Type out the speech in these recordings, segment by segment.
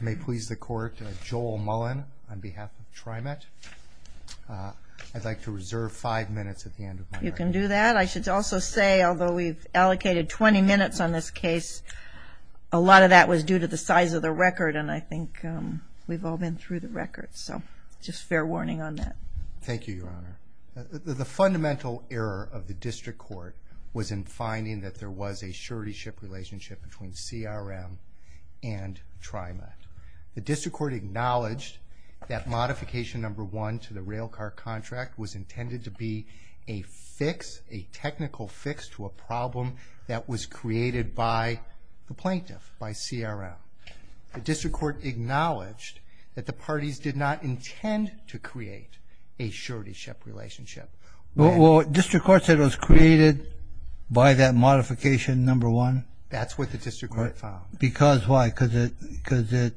May it please the Court, Joel Mullen on behalf of TriMet. I'd like to reserve five minutes at the end of my record. You can do that. I should also say, although we've allocated 20 minutes on this case, a lot of that was due to the size of the record, and I think we've all been through the record, so just fair warning on that. Thank you, Your Honor. The fundamental error of the District Court was in finding that there was a surety ship relationship between CRM and TriMet. The District Court acknowledged that Modification No. 1 to the rail car contract was intended to be a fix, a technical fix to a problem that was created by the plaintiff, by CRM. The District Court acknowledged that the parties did not intend to create a surety ship relationship. Well, District Court said it was created by that Modification No. 1? That's what the District Court found. Because why? Because it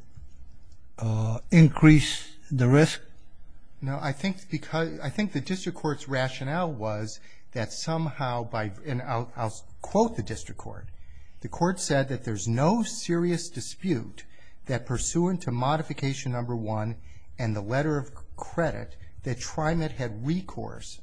increased the risk? No, I think the District Court's rationale was that somehow, and I'll quote the District Court, the Court said that there's no serious dispute that, pursuant to Modification No. 1 and the letter of credit, that TriMet had recourse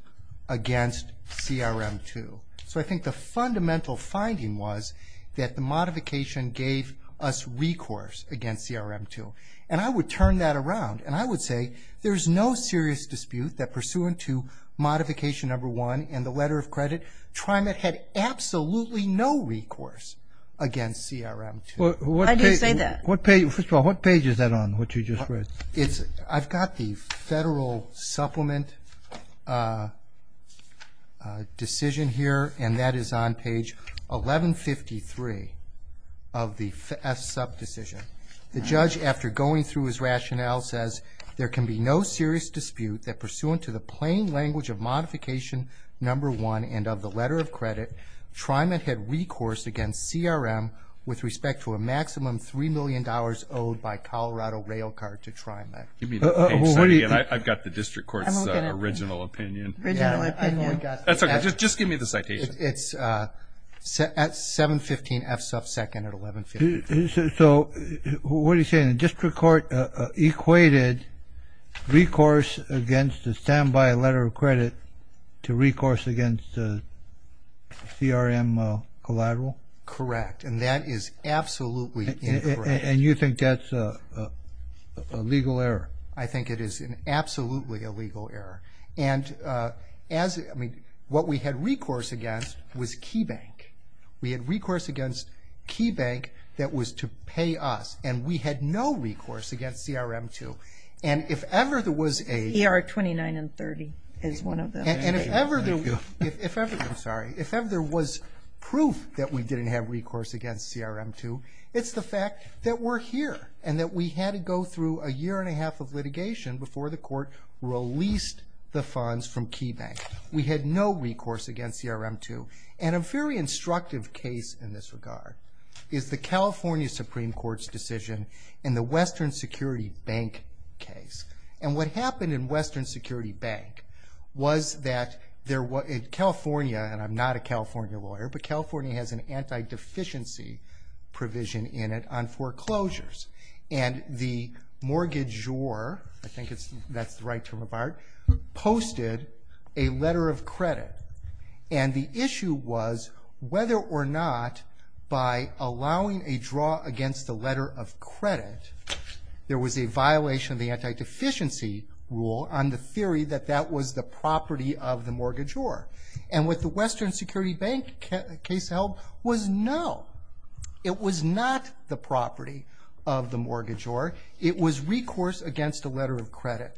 against CRM 2. So I think the fundamental finding was that the modification gave us recourse against CRM 2, and I would turn that around, and I would say there's no serious dispute that, pursuant to Modification No. 1 and the letter of credit, TriMet had absolutely no recourse against CRM 2. Why do you say that? First of all, what page is that on, what you just read? I've got the Federal Supplement decision here, and that is on page 1153 of the FSUP decision. The judge, after going through his rationale, says, there can be no serious dispute that, pursuant to the plain language of Modification No. 1 and of the letter of credit, TriMet had recourse against CRM with respect to a maximum $3 million owed by Colorado Railcard to TriMet. Give me the page, and I've got the District Court's original opinion. Original opinion. That's okay, just give me the citation. It's at 715 FSUP 2nd at 1153. So, what are you saying? The District Court equated recourse against a standby letter of credit to recourse against a CRM collateral? Correct, and that is absolutely incorrect. And you think that's a legal error? I think it is absolutely a legal error. And as, I mean, what we had recourse against was KeyBank. We had recourse against KeyBank that was to pay us, and we had no recourse against CRM 2. And if ever there was a... ER 29 and 30 is one of them. And if ever there was proof that we didn't have recourse against CRM 2, it's the fact that we're here, and that we had to go through a year and a half of litigation before the court released the funds from KeyBank. We had no recourse against CRM 2. And a very instructive case in this regard is the California Supreme Court's decision in the Western Security Bank case. And what happened in Western Security Bank was that California, and I'm not a California lawyer, but California has an anti-deficiency provision in it on foreclosures. And the mortgagor, I think that's the right term of art, posted a letter of credit. And the issue was whether or not by allowing a draw against the letter of credit, there was a violation of the anti-deficiency rule on the theory that that was the property of the mortgagor. And what the Western Security Bank case held was no. It was not the property of the mortgagor. It was recourse against a letter of credit.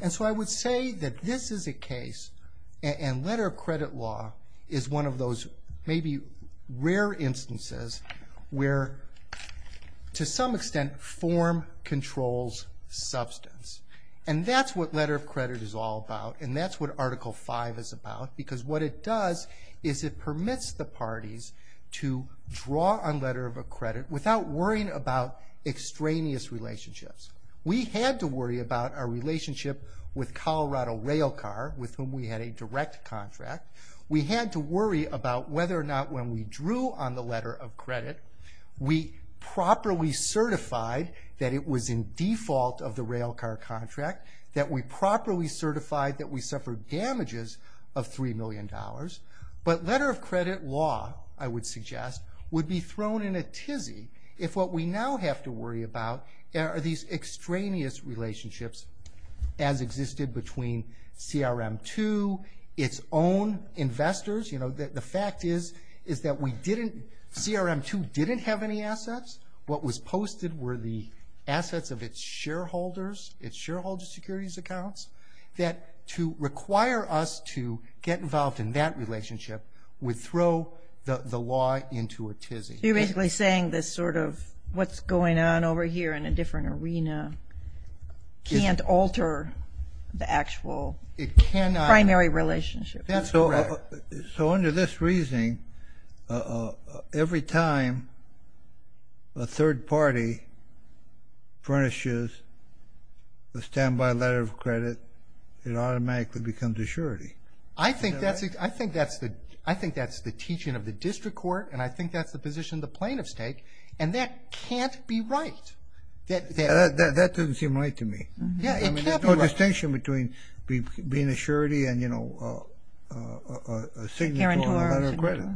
And so I would say that this is a case, and letter of credit law is one of those maybe rare instances where, to some extent, form controls substance. And that's what letter of credit is all about, and that's what Article V is about, because what it does is it permits the parties to draw on letter of credit without worrying about extraneous relationships. We had to worry about our relationship with Colorado Rail Car, with whom we had a direct contract. We had to worry about whether or not when we drew on the letter of credit, we properly certified that it was in default of the rail car contract, that we properly certified that we suffered damages of $3 million. But letter of credit law, I would suggest, would be thrown in a tizzy if what we now have to worry about are these extraneous relationships as existed between CRM II, its own investors. You know, the fact is that CRM II didn't have any assets. What was posted were the assets of its shareholders, its shareholder securities accounts, that to require us to get involved in that relationship would throw the law into a tizzy. So you're basically saying this sort of what's going on over here in a different arena can't alter the actual primary relationship. So under this reasoning, every time a third party furnishes a standby letter of credit, it automatically becomes a surety. I think that's the teaching of the district court, and I think that's the position the plaintiffs take, and that can't be right. That doesn't seem right to me. There's no distinction between being a surety and, you know, a signature on a letter of credit.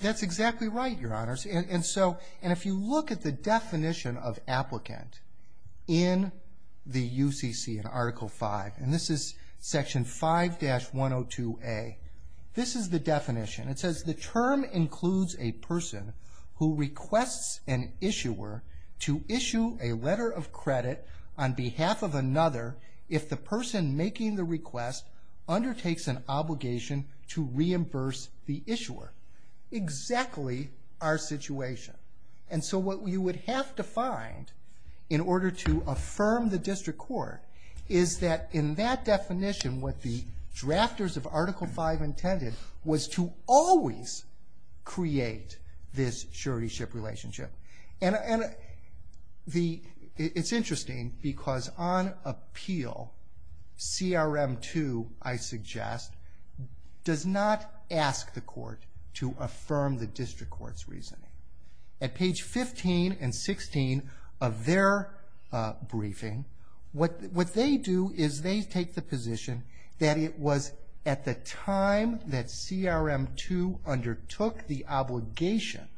That's exactly right, Your Honors. And if you look at the definition of applicant in the UCC in Article V, and this is Section 5-102A, this is the definition. It says, The term includes a person who requests an issuer to issue a letter of credit on behalf of another if the person making the request undertakes an obligation to reimburse the issuer. Exactly our situation. And so what you would have to find in order to affirm the district court is that in that definition, what the drafters of Article V intended was to always create this surety-ship relationship. And it's interesting because on appeal, CRM 2, I suggest, does not ask the court to affirm the district court's reasoning. At page 15 and 16 of their briefing, what they do is they take the position that it was at the time that CRM 2 undertook the obligation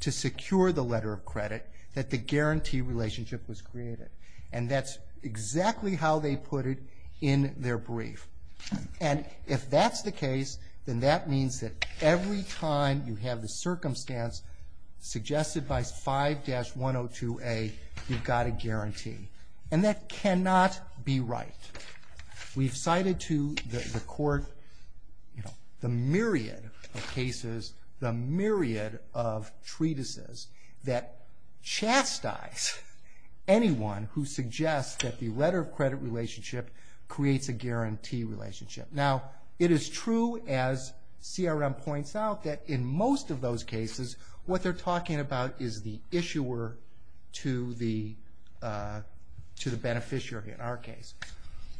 to secure the letter of credit that the guarantee relationship was created. And that's exactly how they put it in their brief. And if that's the case, then that means that every time you have the circumstance suggested by 5-102A, you've got a guarantee. And that cannot be right. We've cited to the court the myriad of cases, the myriad of treatises, that chastise anyone who suggests that the letter of credit relationship creates a guarantee relationship. Now, it is true, as CRM points out, that in most of those cases, what they're talking about is the issuer to the beneficiary in our case.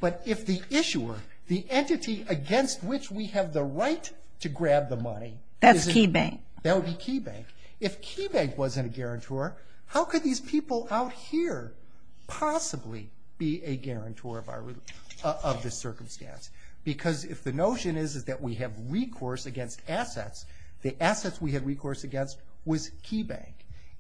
But if the issuer, the entity against which we have the right to grab the money. That's KeyBank. That would be KeyBank. If KeyBank wasn't a guarantor, how could these people out here possibly be a guarantor of this circumstance? Because if the notion is that we have recourse against assets, the assets we have recourse against was KeyBank.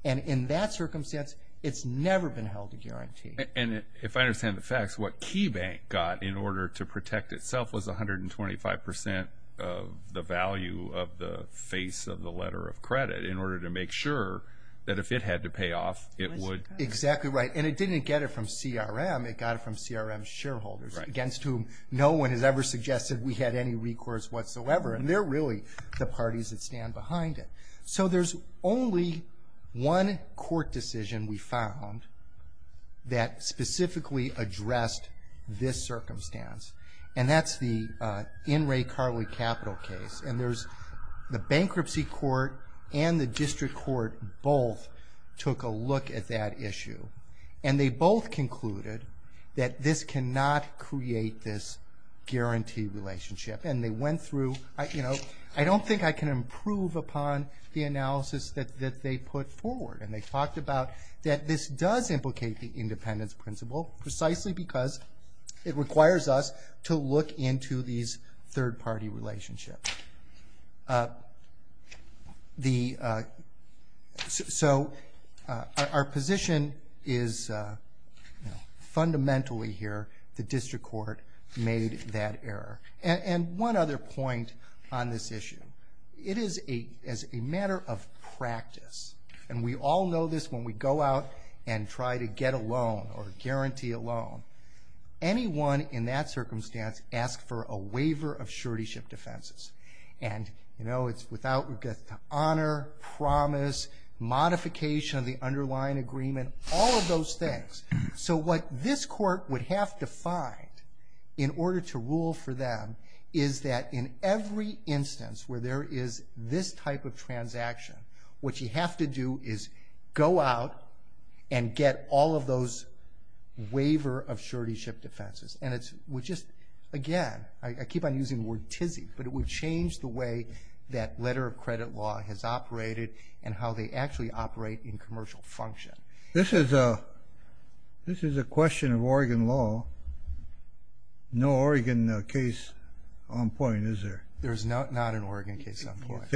And in that circumstance, it's never been held to guarantee. And if I understand the facts, what KeyBank got in order to protect itself was 125% of the value of the face of the letter of credit, in order to make sure that if it had to pay off, it would. Exactly right. And it didn't get it from CRM. It got it from CRM's shareholders, against whom no one has ever suggested we had any recourse whatsoever. And they're really the parties that stand behind it. So there's only one court decision we found that specifically addressed this circumstance. And that's the In re Carli Capital case. And the bankruptcy court and the district court both took a look at that issue. And they both concluded that this cannot create this guarantee relationship. And they went through, you know, I don't think I can improve upon the analysis that they put forward. And they talked about that this does implicate the independence principle, precisely because it requires us to look into these third-party relationships. So our position is fundamentally here, the district court made that error. And one other point on this issue. It is a matter of practice. And we all know this when we go out and try to get a loan or guarantee a loan. Anyone in that circumstance asks for a waiver of surety ship defenses. And, you know, it's without regard to honor, promise, modification of the underlying agreement, all of those things. So what this court would have to find in order to rule for them is that in every instance where there is this type of transaction, what you have to do is go out and get all of those waiver of surety ship defenses. And it would just, again, I keep on using the word tizzy, but it would change the way that letter of credit law has operated and how they actually operate in commercial function. This is a question of Oregon law. No Oregon case on point, is there? There is not an Oregon case on point.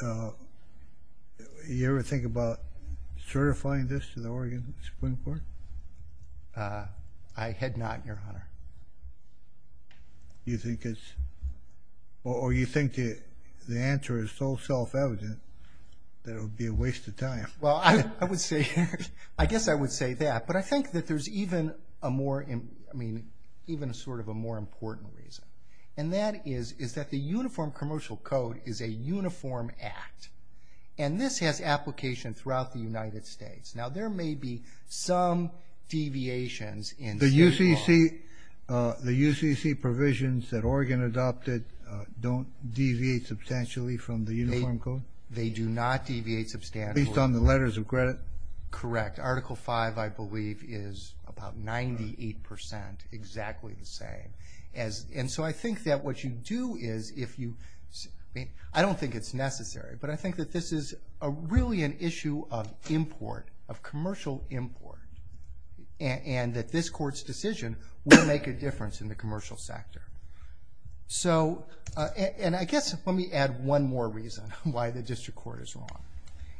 Do you ever think about certifying this to the Oregon Supreme Court? I had not, Your Honor. Do you think it's or you think the answer is so self-evident that it would be a waste of time? Well, I would say, I guess I would say that. But I think that there's even a more, I mean, even sort of a more important reason. And that is that the Uniform Commercial Code is a uniform act. And this has application throughout the United States. Now there may be some deviations in state law. The UCC provisions that Oregon adopted don't deviate substantially from the Uniform Code? They do not deviate substantially. Based on the letters of credit? Correct. Article V, I believe, is about 98% exactly the same. And so I think that what you do is if you, I mean, I don't think it's necessary. But I think that this is really an issue of import, of commercial import. And that this Court's decision will make a difference in the commercial sector. So, and I guess let me add one more reason why the District Court is wrong.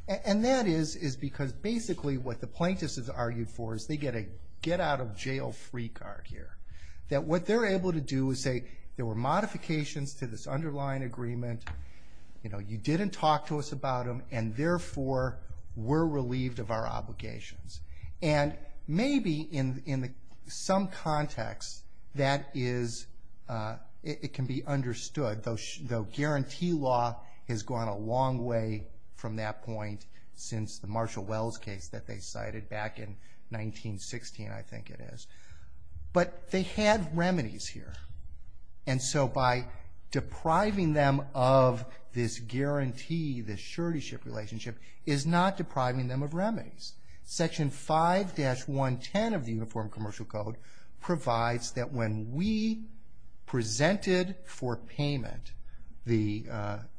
And that is because basically what the plaintiffs have argued for is they get a get-out-of-jail-free card here. That what they're able to do is say there were modifications to this underlying agreement, you know, you didn't talk to us about them, and therefore we're relieved of our obligations. And maybe in some context that is, it can be understood, though guarantee law has gone a long way from that point since the Marshall Wells case that they cited back in 1916, I think it is. But they had remedies here. And so by depriving them of this guarantee, this surety relationship, is not depriving them of remedies. Section 5-110 of the Uniform Commercial Code provides that when we presented for payment the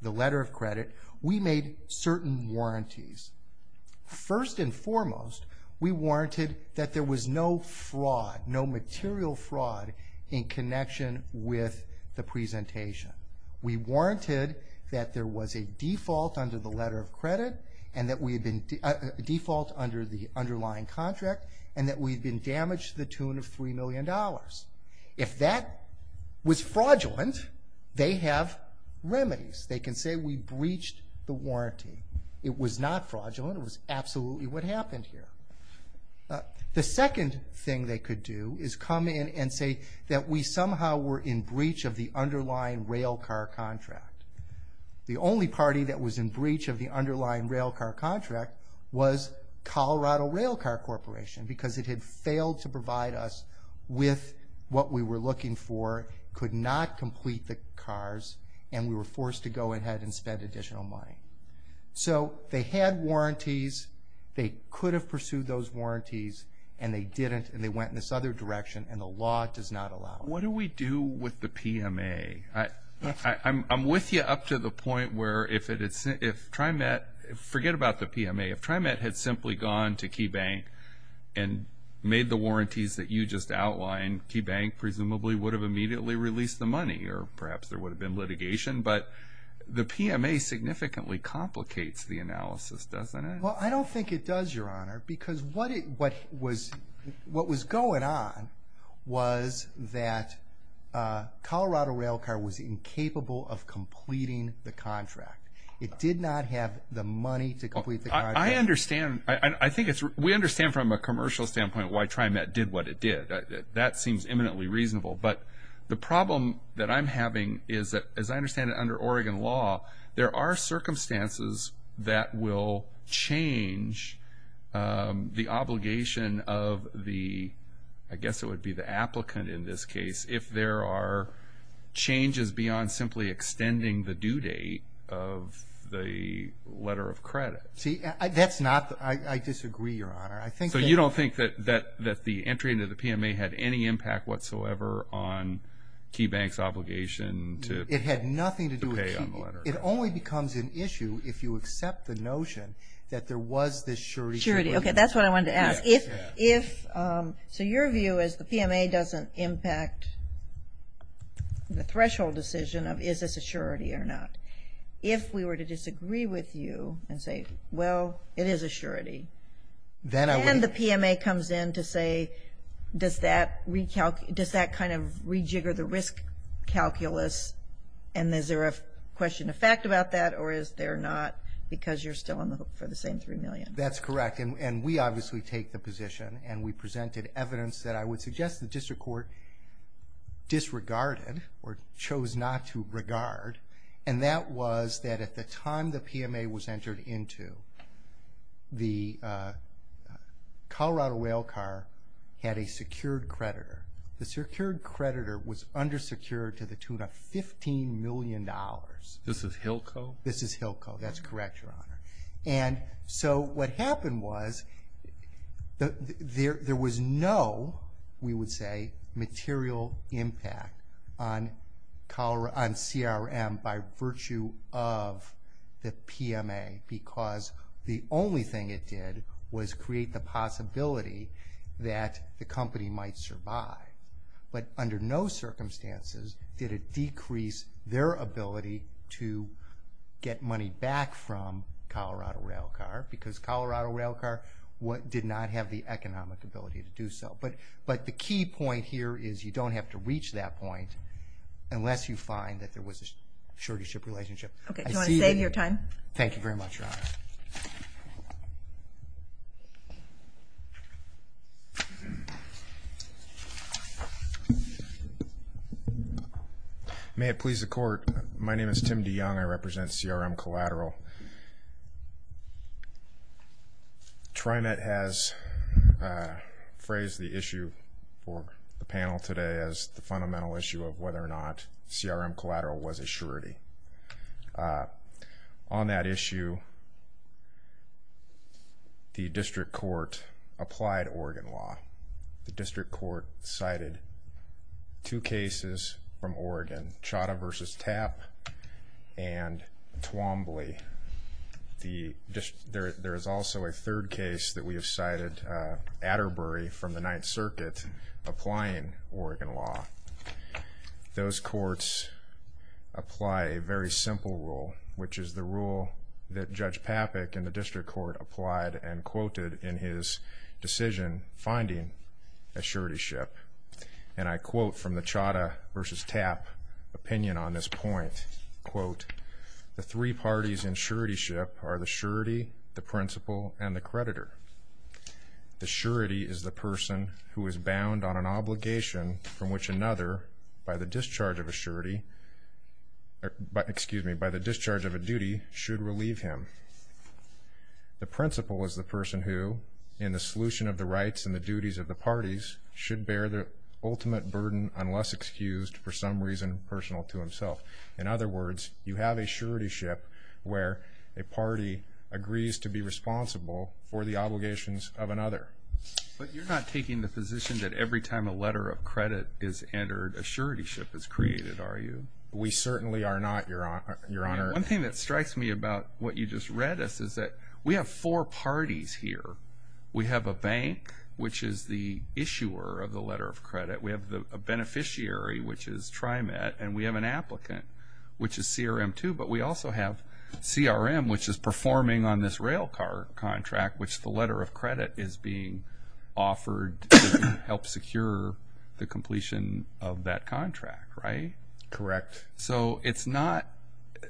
letter of credit, we made certain warranties. First and foremost, we warranted that there was no fraud, no material fraud in connection with the presentation. We warranted that there was a default under the letter of credit and that we had been default under the underlying contract and that we had been damaged to the tune of $3 million. If that was fraudulent, they have remedies. They can say we breached the warranty. It was not fraudulent. It was absolutely what happened here. The second thing they could do is come in and say that we somehow were in breach of the underlying rail car contract. The only party that was in breach of the underlying rail car contract was Colorado Rail Car Corporation because it had failed to provide us with what we were looking for, could not complete the cars, and we were forced to go ahead and spend additional money. So they had warranties. They could have pursued those warranties, and they didn't, and they went in this other direction, and the law does not allow it. What do we do with the PMA? I'm with you up to the point where if TriMet – forget about the PMA. If TriMet had simply gone to KeyBank and made the warranties that you just outlined, KeyBank presumably would have immediately released the money, or perhaps there would have been litigation. But the PMA significantly complicates the analysis, doesn't it? Well, I don't think it does, Your Honor, because what was going on was that Colorado Rail Car was incapable of completing the contract. It did not have the money to complete the contract. I understand. We understand from a commercial standpoint why TriMet did what it did. That seems eminently reasonable. But the problem that I'm having is that, as I understand it, under Oregon law, there are circumstances that will change the obligation of the, I guess it would be the applicant in this case, if there are changes beyond simply extending the due date of the letter of credit. See, that's not – I disagree, Your Honor. So you don't think that the entry into the PMA had any impact whatsoever on KeyBank's obligation to pay on the letter? It only becomes an issue if you accept the notion that there was this surety. Surety, okay, that's what I wanted to ask. So your view is the PMA doesn't impact the threshold decision of is this a surety or not. If we were to disagree with you and say, well, it is a surety, then the PMA comes in to say, does that kind of rejigger the risk calculus, and is there a question of fact about that, or is there not, because you're still on the hook for the same $3 million? That's correct, and we obviously take the position, and we presented evidence that I would suggest the district court disregarded or chose not to regard, and that was that at the time the PMA was entered into, the Colorado Railcar had a secured creditor. The secured creditor was undersecured to the tune of $15 million. This is HILCO? This is HILCO, that's correct, Your Honor. So what happened was there was no, we would say, material impact on CRM by virtue of the PMA because the only thing it did was create the possibility that the company might survive, but under no circumstances did it decrease their ability to get money back from Colorado Railcar because Colorado Railcar did not have the economic ability to do so. But the key point here is you don't have to reach that point unless you find that there was a surety-ship relationship. Okay, do you want to save your time? Thank you very much, Your Honor. May it please the Court, my name is Tim DeYoung. I represent CRM Collateral. TriMet has phrased the issue for the panel today as the fundamental issue of whether or not CRM Collateral was a surety. On that issue, the district court applied Oregon law. The district court cited two cases from Oregon, Chada v. Tapp and Twombly. There is also a third case that we have cited, Atterbury from the Ninth Circuit, applying Oregon law. Those courts apply a very simple rule, which is the rule that Judge Papik in the district court applied and quoted in his decision finding a surety-ship. And I quote from the Chada v. Tapp opinion on this point, quote, the three parties in surety-ship are the surety, the principal, and the creditor. The surety is the person who is bound on an obligation from which another, by the discharge of a surety, excuse me, by the discharge of a duty, should relieve him. The principal is the person who, in the solution of the rights and the duties of the parties, should bear the ultimate burden unless excused for some reason personal to himself. In other words, you have a surety-ship where a party agrees to be responsible for the obligations of another. But you're not taking the position that every time a letter of credit is entered, a surety-ship is created, are you? We certainly are not, Your Honor. One thing that strikes me about what you just read us is that we have four parties here. We have a bank, which is the issuer of the letter of credit. We have a beneficiary, which is TriMet, and we have an applicant, which is CRM, too. But we also have CRM, which is performing on this rail car contract, which the letter of credit is being offered to help secure the completion of that contract, right? Correct. So it's not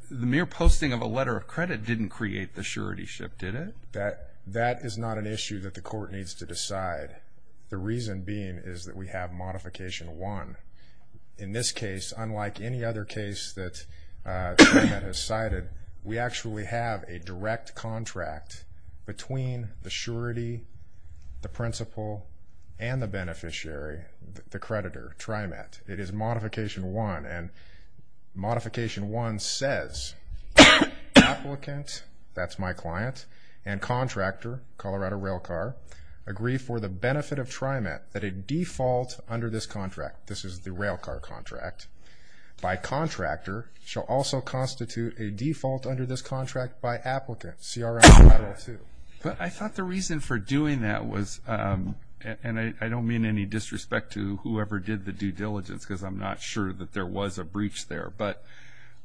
the mere posting of a letter of credit didn't create the surety-ship, did it? The reason being is that we have Modification 1. In this case, unlike any other case that TriMet has cited, we actually have a direct contract between the surety, the principal, and the beneficiary, the creditor, TriMet. It is Modification 1, and Modification 1 says, Applicant, that's my client, and contractor, Colorado Rail Car, agree for the benefit of TriMet that a default under this contract, this is the rail car contract, by contractor shall also constitute a default under this contract by applicant, CRM 502. But I thought the reason for doing that was, and I don't mean any disrespect to whoever did the due diligence because I'm not sure that there was a breach there, but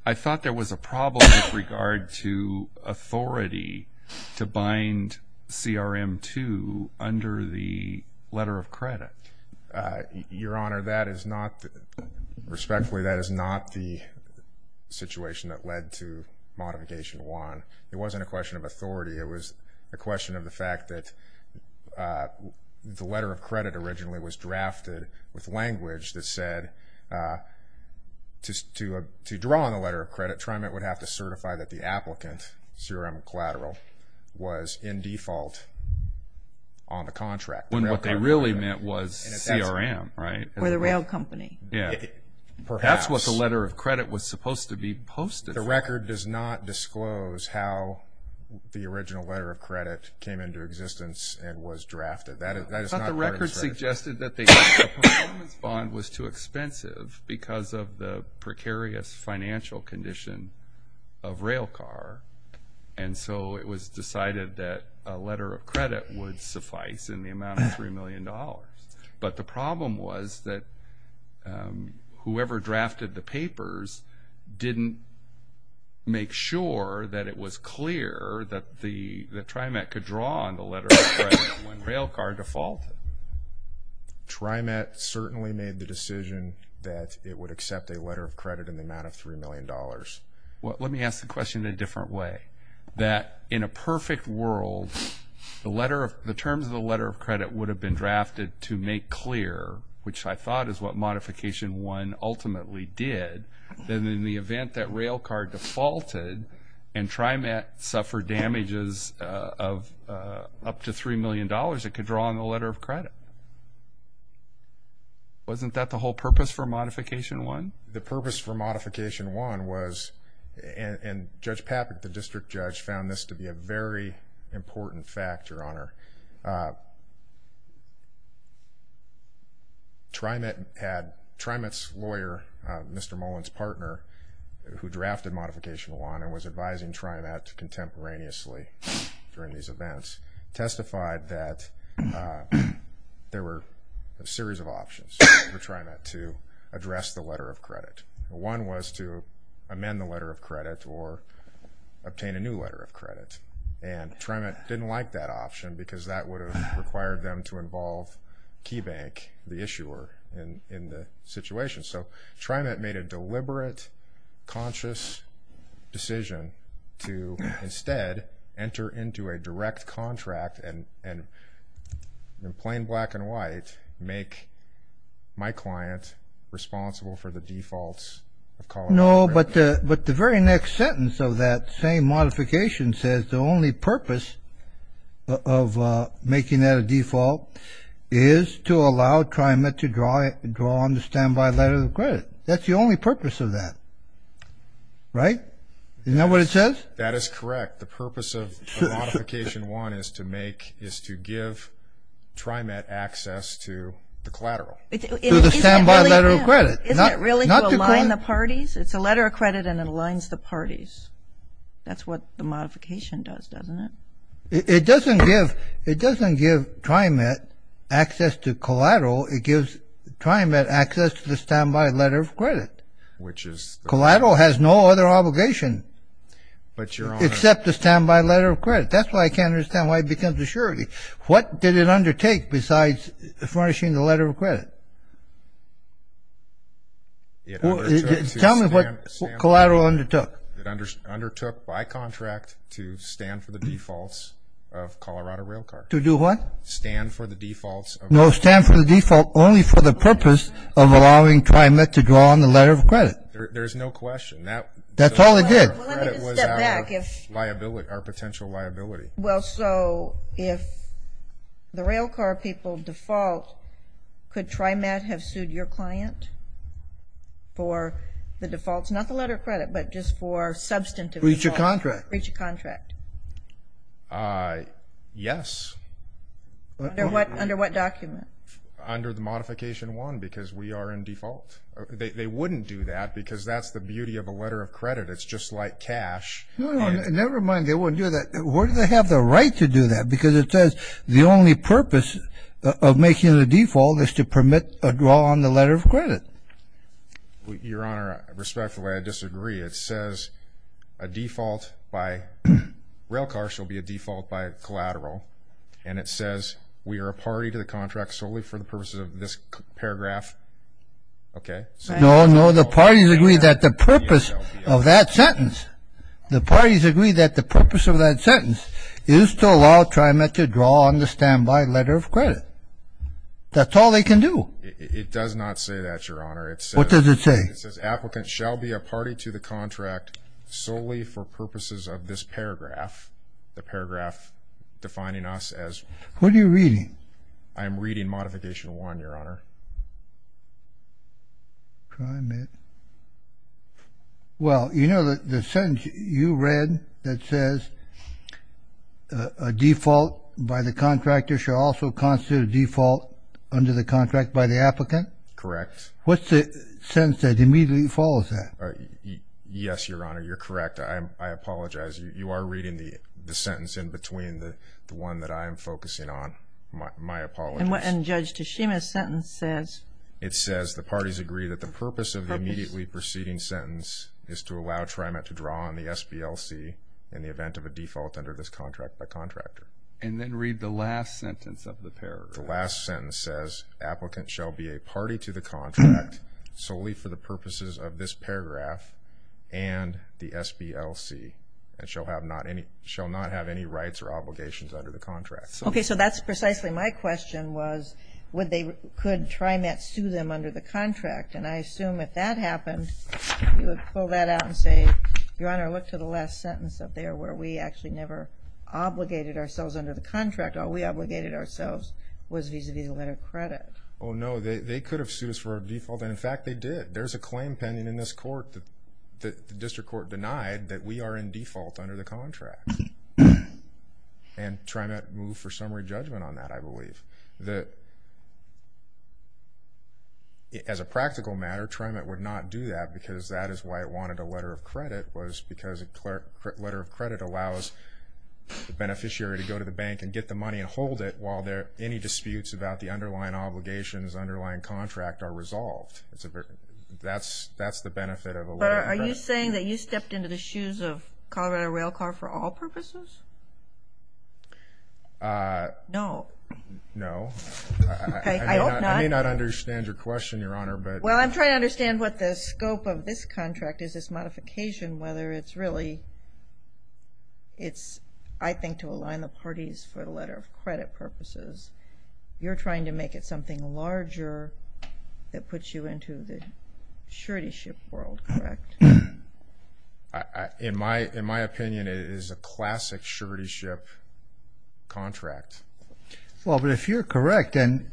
I thought there was a problem with regard to authority to bind CRM 2 under the letter of credit. Your Honor, that is not, respectfully, that is not the situation that led to Modification 1. It wasn't a question of authority. It was a question of the fact that the letter of credit originally was drafted with language that said to draw on the letter of credit, TriMet would have to certify that the applicant, CRM collateral, was in default on the contract. When what they really meant was CRM, right? For the rail company. Yeah. Perhaps. That's what the letter of credit was supposed to be posted for. The record does not disclose how the original letter of credit came into existence and was drafted. I thought the record suggested that the performance bond was too expensive because of the precarious financial condition of Railcar, and so it was decided that a letter of credit would suffice in the amount of $3 million. But the problem was that whoever drafted the papers didn't make sure that it was clear that TriMet could draw on the letter of credit when Railcar defaulted. TriMet certainly made the decision that it would accept a letter of credit in the amount of $3 million. Well, let me ask the question in a different way. That in a perfect world, the terms of the letter of credit would have been drafted to make clear, which I thought is what Modification 1 ultimately did, that in the event that Railcar defaulted and TriMet suffered damages of up to $3 million, it could draw on the letter of credit. Wasn't that the whole purpose for Modification 1? The purpose for Modification 1 was, and Judge Papich, the district judge, TriMet's lawyer, Mr. Mullen's partner, who drafted Modification 1 and was advising TriMet contemporaneously during these events, testified that there were a series of options for TriMet to address the letter of credit. One was to amend the letter of credit or obtain a new letter of credit, and TriMet didn't like that option because that would have required them to involve KeyBank, the issuer, in the situation. So TriMet made a deliberate, conscious decision to instead enter into a direct contract and in plain black and white make my client responsible for the defaults of calling the letter of credit. No, but the very next sentence of that same modification says the only purpose of making that a default is to allow TriMet to draw on the standby letter of credit. That's the only purpose of that. Right? Isn't that what it says? That is correct. The purpose of Modification 1 is to give TriMet access to the collateral. To the standby letter of credit. Isn't it really to align the parties? It's a letter of credit and it aligns the parties. That's what the modification does, doesn't it? It doesn't give TriMet access to collateral. It gives TriMet access to the standby letter of credit. Collateral has no other obligation except the standby letter of credit. That's why I can't understand why it becomes a surety. What did it undertake besides furnishing the letter of credit? Tell me what collateral undertook. It undertook by contract to stand for the defaults of Colorado Railcar. To do what? Stand for the defaults. No, stand for the default only for the purpose of allowing TriMet to draw on the letter of credit. There's no question. That's all it did. Well, let me just step back. Our potential liability. Well, so if the railcar people default, could TriMet have sued your client for the defaults? Not the letter of credit, but just for substantive defaults? Breach of contract. Breach of contract. Yes. Under what document? Under the modification one because we are in default. They wouldn't do that because that's the beauty of a letter of credit. It's just like cash. Never mind they wouldn't do that. Where do they have the right to do that? Because it says the only purpose of making the default is to permit a draw on the letter of credit. Your Honor, respectfully, I disagree. It says a default by railcars shall be a default by collateral, and it says we are a party to the contract solely for the purposes of this paragraph. Okay. No, no, the parties agree that the purpose of that sentence, the parties agree that the purpose of that sentence is to allow TriMet to draw on the standby letter of credit. That's all they can do. It does not say that, Your Honor. What does it say? It says applicants shall be a party to the contract solely for purposes of this paragraph, the paragraph defining us as. What are you reading? I am reading modification one, Your Honor. TriMet. Well, you know the sentence you read that says a default by the contractor shall also constitute a default under the contract by the applicant? Correct. What's the sentence that immediately follows that? Yes, Your Honor, you're correct. I apologize. You are reading the sentence in between the one that I am focusing on. My apologies. And Judge Toshima's sentence says. It says the parties agree that the purpose of the immediately preceding sentence is to allow TriMet to draw on the SBLC in the event of a default under this contract by contractor. And then read the last sentence of the paragraph. The last sentence says applicants shall be a party to the contract solely for the purposes of this paragraph and the SBLC and shall not have any rights or obligations under the contract. Okay, so that's precisely my question was could TriMet sue them under the contract? And I assume if that happened, you would pull that out and say, Your Honor, look to the last sentence up there where we actually never obligated ourselves under the contract. All we obligated ourselves was vis-à-vis the letter of credit. Oh, no, they could have sued us for a default, and in fact they did. There's a claim pending in this court that the district court denied that we are in default under the contract. And TriMet moved for summary judgment on that, I believe. As a practical matter, TriMet would not do that because that is why it wanted a letter of credit was because a letter of credit allows the beneficiary to go to the bank and get the money and hold it while any disputes about the underlying obligations, underlying contract are resolved. Are you saying that you stepped into the shoes of Colorado Railcar for all purposes? No. No. I hope not. I may not understand your question, Your Honor. Well, I'm trying to understand what the scope of this contract is, this modification, whether it's really I think to align the parties for the letter of credit purposes. You're trying to make it something larger that puts you into the surety ship world, correct? In my opinion, it is a classic surety ship contract. Well, but if you're correct, and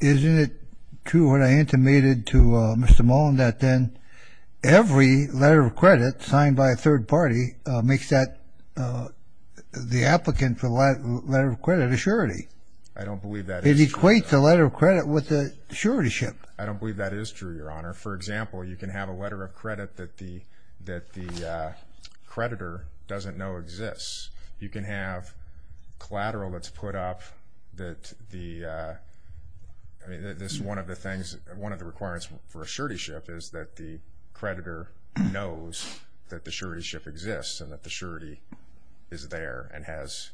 isn't it true what I intimated to Mr. Mullen that then every letter of credit signed by a third party makes that the applicant for the letter of credit a surety? I don't believe that is true, Your Honor. It equates a letter of credit with a surety ship. I don't believe that is true, Your Honor. For example, you can have a letter of credit that the creditor doesn't know exists. You can have collateral that's put up that the, I mean, this is one of the things, one of the requirements for a surety ship is that the creditor knows that the surety ship exists and that the surety is there and has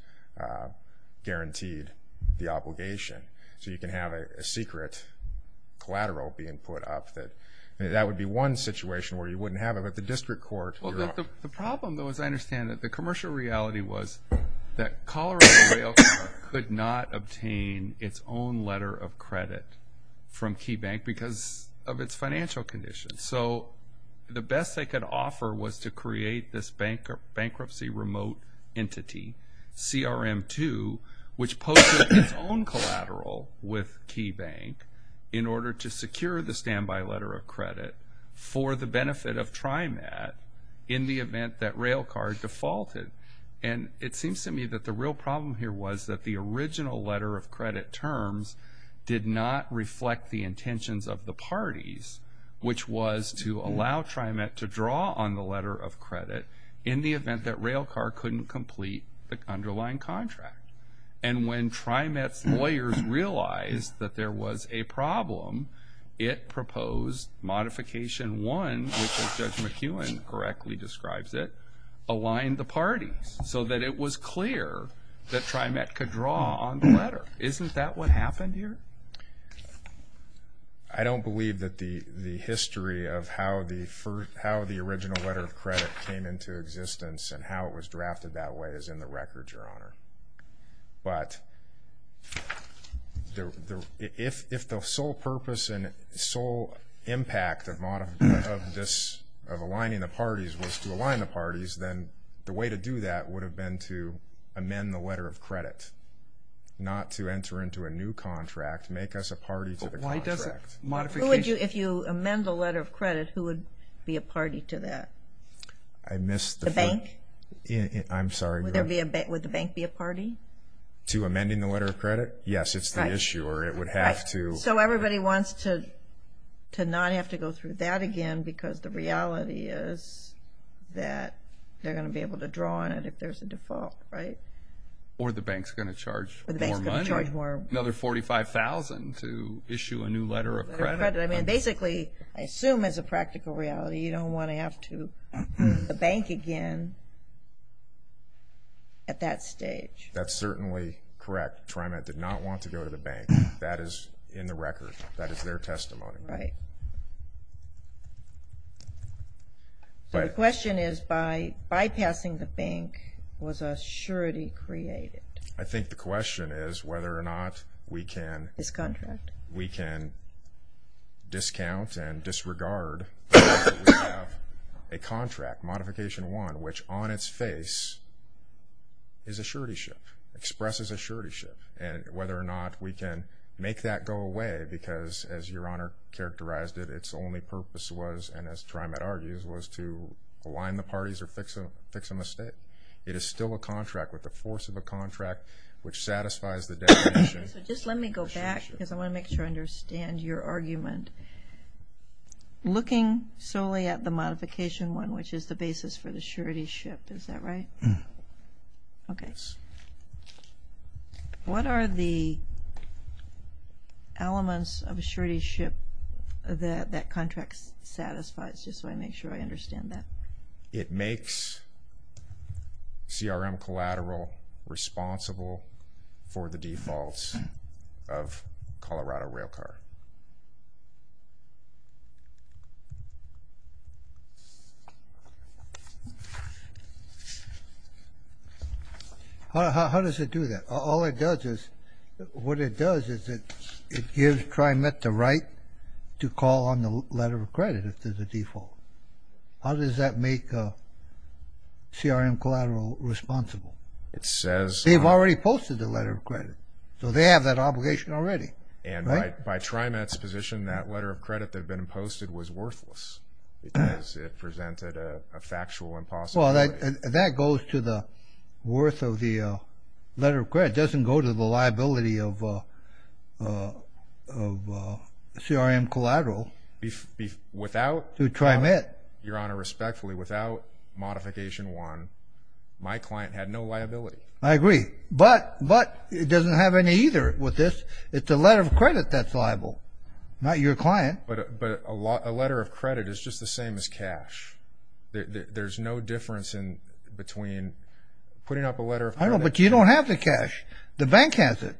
guaranteed the obligation. So you can have a secret collateral being put up. That would be one situation where you wouldn't have it, but the district court, Your Honor. The problem, though, as I understand it, the commercial reality was that Colorado Rail could not obtain its own letter of credit from KeyBank because of its financial conditions. So the best they could offer was to create this bankruptcy remote entity, CRM2, which posted its own collateral with KeyBank in order to secure the standby letter of credit for the benefit of TriMet in the event that RailCard defaulted. And it seems to me that the real problem here was that the original letter of credit terms did not reflect the intentions of the parties, which was to allow TriMet to draw on the letter of credit in the event that RailCard couldn't complete the underlying contract. And when TriMet's lawyers realized that there was a problem, it proposed Modification 1, which, as Judge McEwen correctly describes it, aligned the parties so that it was clear that TriMet could draw on the letter. Isn't that what happened here? I don't believe that the history of how the original letter of credit came into existence and how it was drafted that way is in the record, Your Honor. But if the sole purpose and sole impact of aligning the parties was to align the parties, then the way to do that would have been to amend the letter of credit, not to enter into a new contract, make us a party to the contract. If you amend the letter of credit, who would be a party to that? I'm sorry, Your Honor. Would the bank be a party? To amending the letter of credit? Yes, it's the issuer. It would have to. So everybody wants to not have to go through that again because the reality is that they're going to be able to draw on it if there's a default, right? Or the bank's going to charge more money, another $45,000 to issue a new letter of credit. I mean, basically, I assume as a practical reality, you don't want to have to go to the bank again at that stage. That's certainly correct. TriMet did not want to go to the bank. That is in the record. That is their testimony. Right. So the question is by bypassing the bank, was a surety created? I think the question is whether or not we can Discontract. we can discount and disregard the fact that we have a contract, Modification 1, which on its face is a surety ship, expresses a surety ship, and whether or not we can make that go away because, as Your Honor characterized it, its only purpose was, and as TriMet argues, was to align the parties or fix a mistake. It is still a contract with the force of a contract which satisfies the definition. Okay, so just let me go back because I want to make sure I understand your argument. Looking solely at the Modification 1, which is the basis for the surety ship, is that right? Yes. What are the elements of a surety ship that that contract satisfies, just so I make sure I understand that? It makes CRM Collateral responsible for the defaults of Colorado Railcar. How does it do that? All it does is, what it does is it gives TriMet the right to call on the letter of credit if there's a default. How does that make CRM Collateral responsible? They've already posted the letter of credit, so they have that obligation already. And by TriMet's position, that letter of credit that had been posted was worthless because it presented a factual impossibility. Well, that goes to the worth of the letter of credit. It doesn't go to the liability of CRM Collateral. Without? To TriMet. Your Honor, respectfully, without Modification 1, my client had no liability. I agree. But it doesn't have any either with this. It's the letter of credit that's liable, not your client. But a letter of credit is just the same as cash. There's no difference between putting up a letter of credit. I know, but you don't have the cash. The bank has it.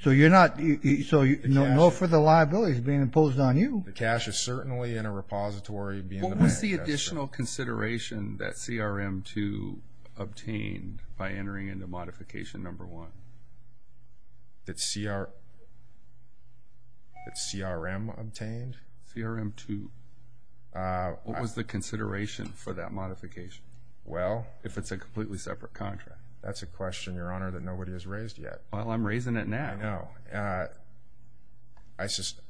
So no further liability is being imposed on you. The cash is certainly in a repository. What was the additional consideration that CRM 2 obtained by entering into Modification 1 that CRM obtained? CRM 2. What was the consideration for that modification? Well, if it's a completely separate contract. That's a question, Your Honor, that nobody has raised yet. Well, I'm raising it now. I know. I just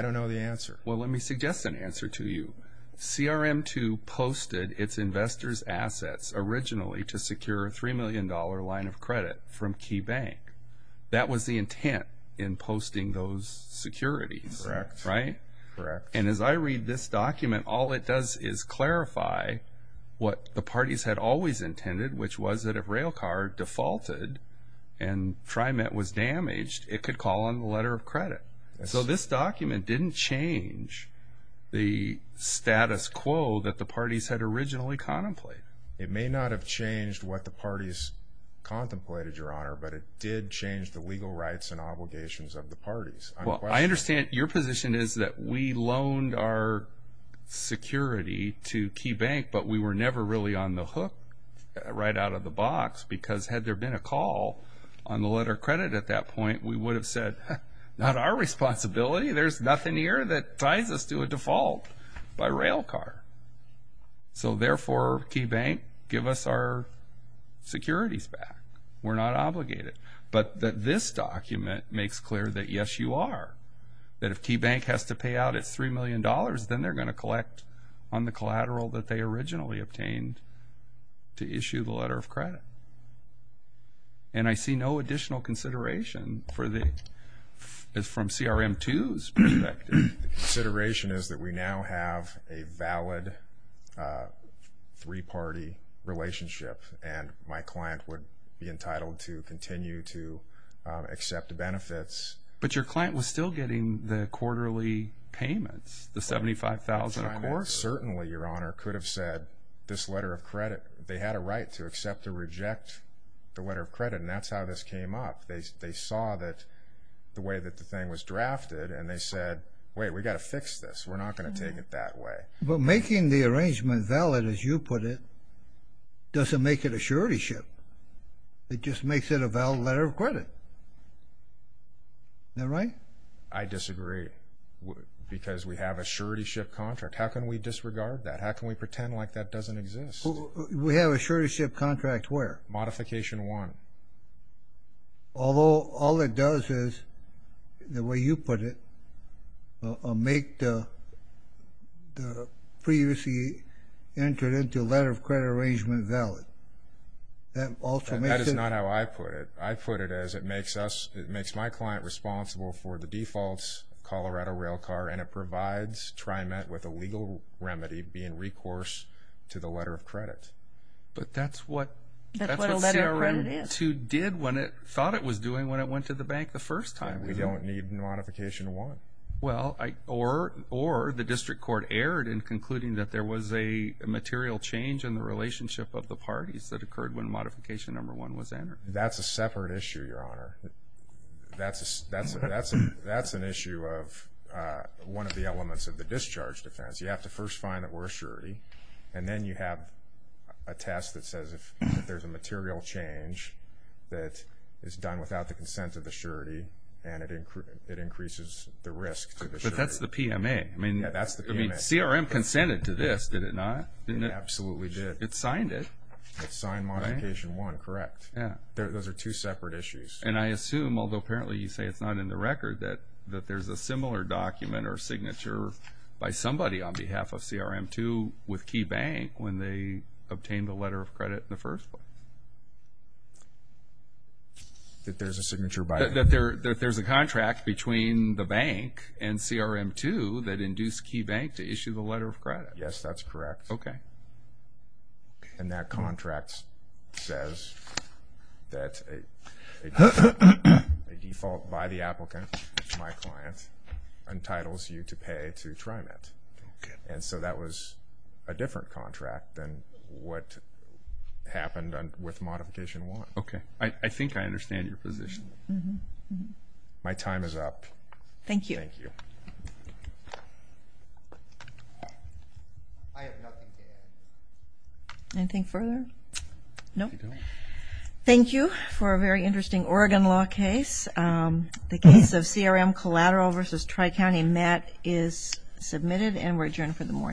don't know the answer. Well, let me suggest an answer to you. CRM 2 posted its investors' assets originally to secure a $3 million line of credit from KeyBank. That was the intent in posting those securities. Correct. Right? Correct. And as I read this document, all it does is clarify what the parties had always intended, which was that if Railcard defaulted and TriMet was damaged, it could call on the letter of credit. So this document didn't change the status quo that the parties had originally contemplated. It may not have changed what the parties contemplated, Your Honor, but it did change the legal rights and obligations of the parties. Well, I understand your position is that we loaned our security to KeyBank, but we were never really on the hook right out of the box, because had there been a call on the letter of credit at that point, we would have said, Not our responsibility. There's nothing here that ties us to a default by Railcard. So, therefore, KeyBank, give us our securities back. We're not obligated. But this document makes clear that, yes, you are, that if KeyBank has to pay out its $3 million, then they're going to collect on the collateral that they originally obtained to issue the letter of credit. And I see no additional consideration from CRM 2's perspective. The consideration is that we now have a valid three-party relationship, and my client would be entitled to continue to accept the benefits. But your client was still getting the quarterly payments, the $75,000 a quarter. Certainly, Your Honor, could have said this letter of credit, they had a right to accept or reject the letter of credit, and that's how this came up. They saw the way that the thing was drafted, and they said, Wait, we've got to fix this. We're not going to take it that way. But making the arrangement valid, as you put it, doesn't make it a surety ship. It just makes it a valid letter of credit. Isn't that right? I disagree, because we have a surety ship contract. How can we disregard that? How can we pretend like that doesn't exist? We have a surety ship contract where? Modification 1. Although all it does is, the way you put it, make the previously entered into letter of credit arrangement valid. That also makes it? That is not how I put it. I put it as it makes my client responsible for the default Colorado rail car, and it provides TriMet with a legal remedy being recourse to the letter of credit. But that's what CRM 2 did when it thought it was doing when it went to the bank the first time. We don't need modification 1. Or the district court erred in concluding that there was a material change in the relationship of the parties that occurred when modification number 1 was entered. That's a separate issue, Your Honor. That's an issue of one of the elements of the discharge defense. You have to first find that we're a surety, and then you have a test that says if there's a material change that is done without the consent of the surety, and it increases the risk to the surety. But that's the PMA. Yeah, that's the PMA. CRM consented to this, did it not? It absolutely did. It signed it. It signed modification 1, correct. Those are two separate issues. And I assume, although apparently you say it's not in the record, that there's a similar document or signature by somebody on behalf of CRM 2 with Key Bank when they obtained the letter of credit in the first place. That there's a signature by them? That there's a contract between the bank and CRM 2 that induced Key Bank to issue the letter of credit. Yes, that's correct. Okay. And that contract says that a default by the applicant, my client, entitles you to pay to TriMet. Okay. And so that was a different contract than what happened with modification 1. Okay. I think I understand your position. My time is up. Thank you. Thank you. Anything further? No. Thank you for a very interesting Oregon law case. The case of CRM Collateral v. Tri-County Met is submitted and we're adjourned for the morning.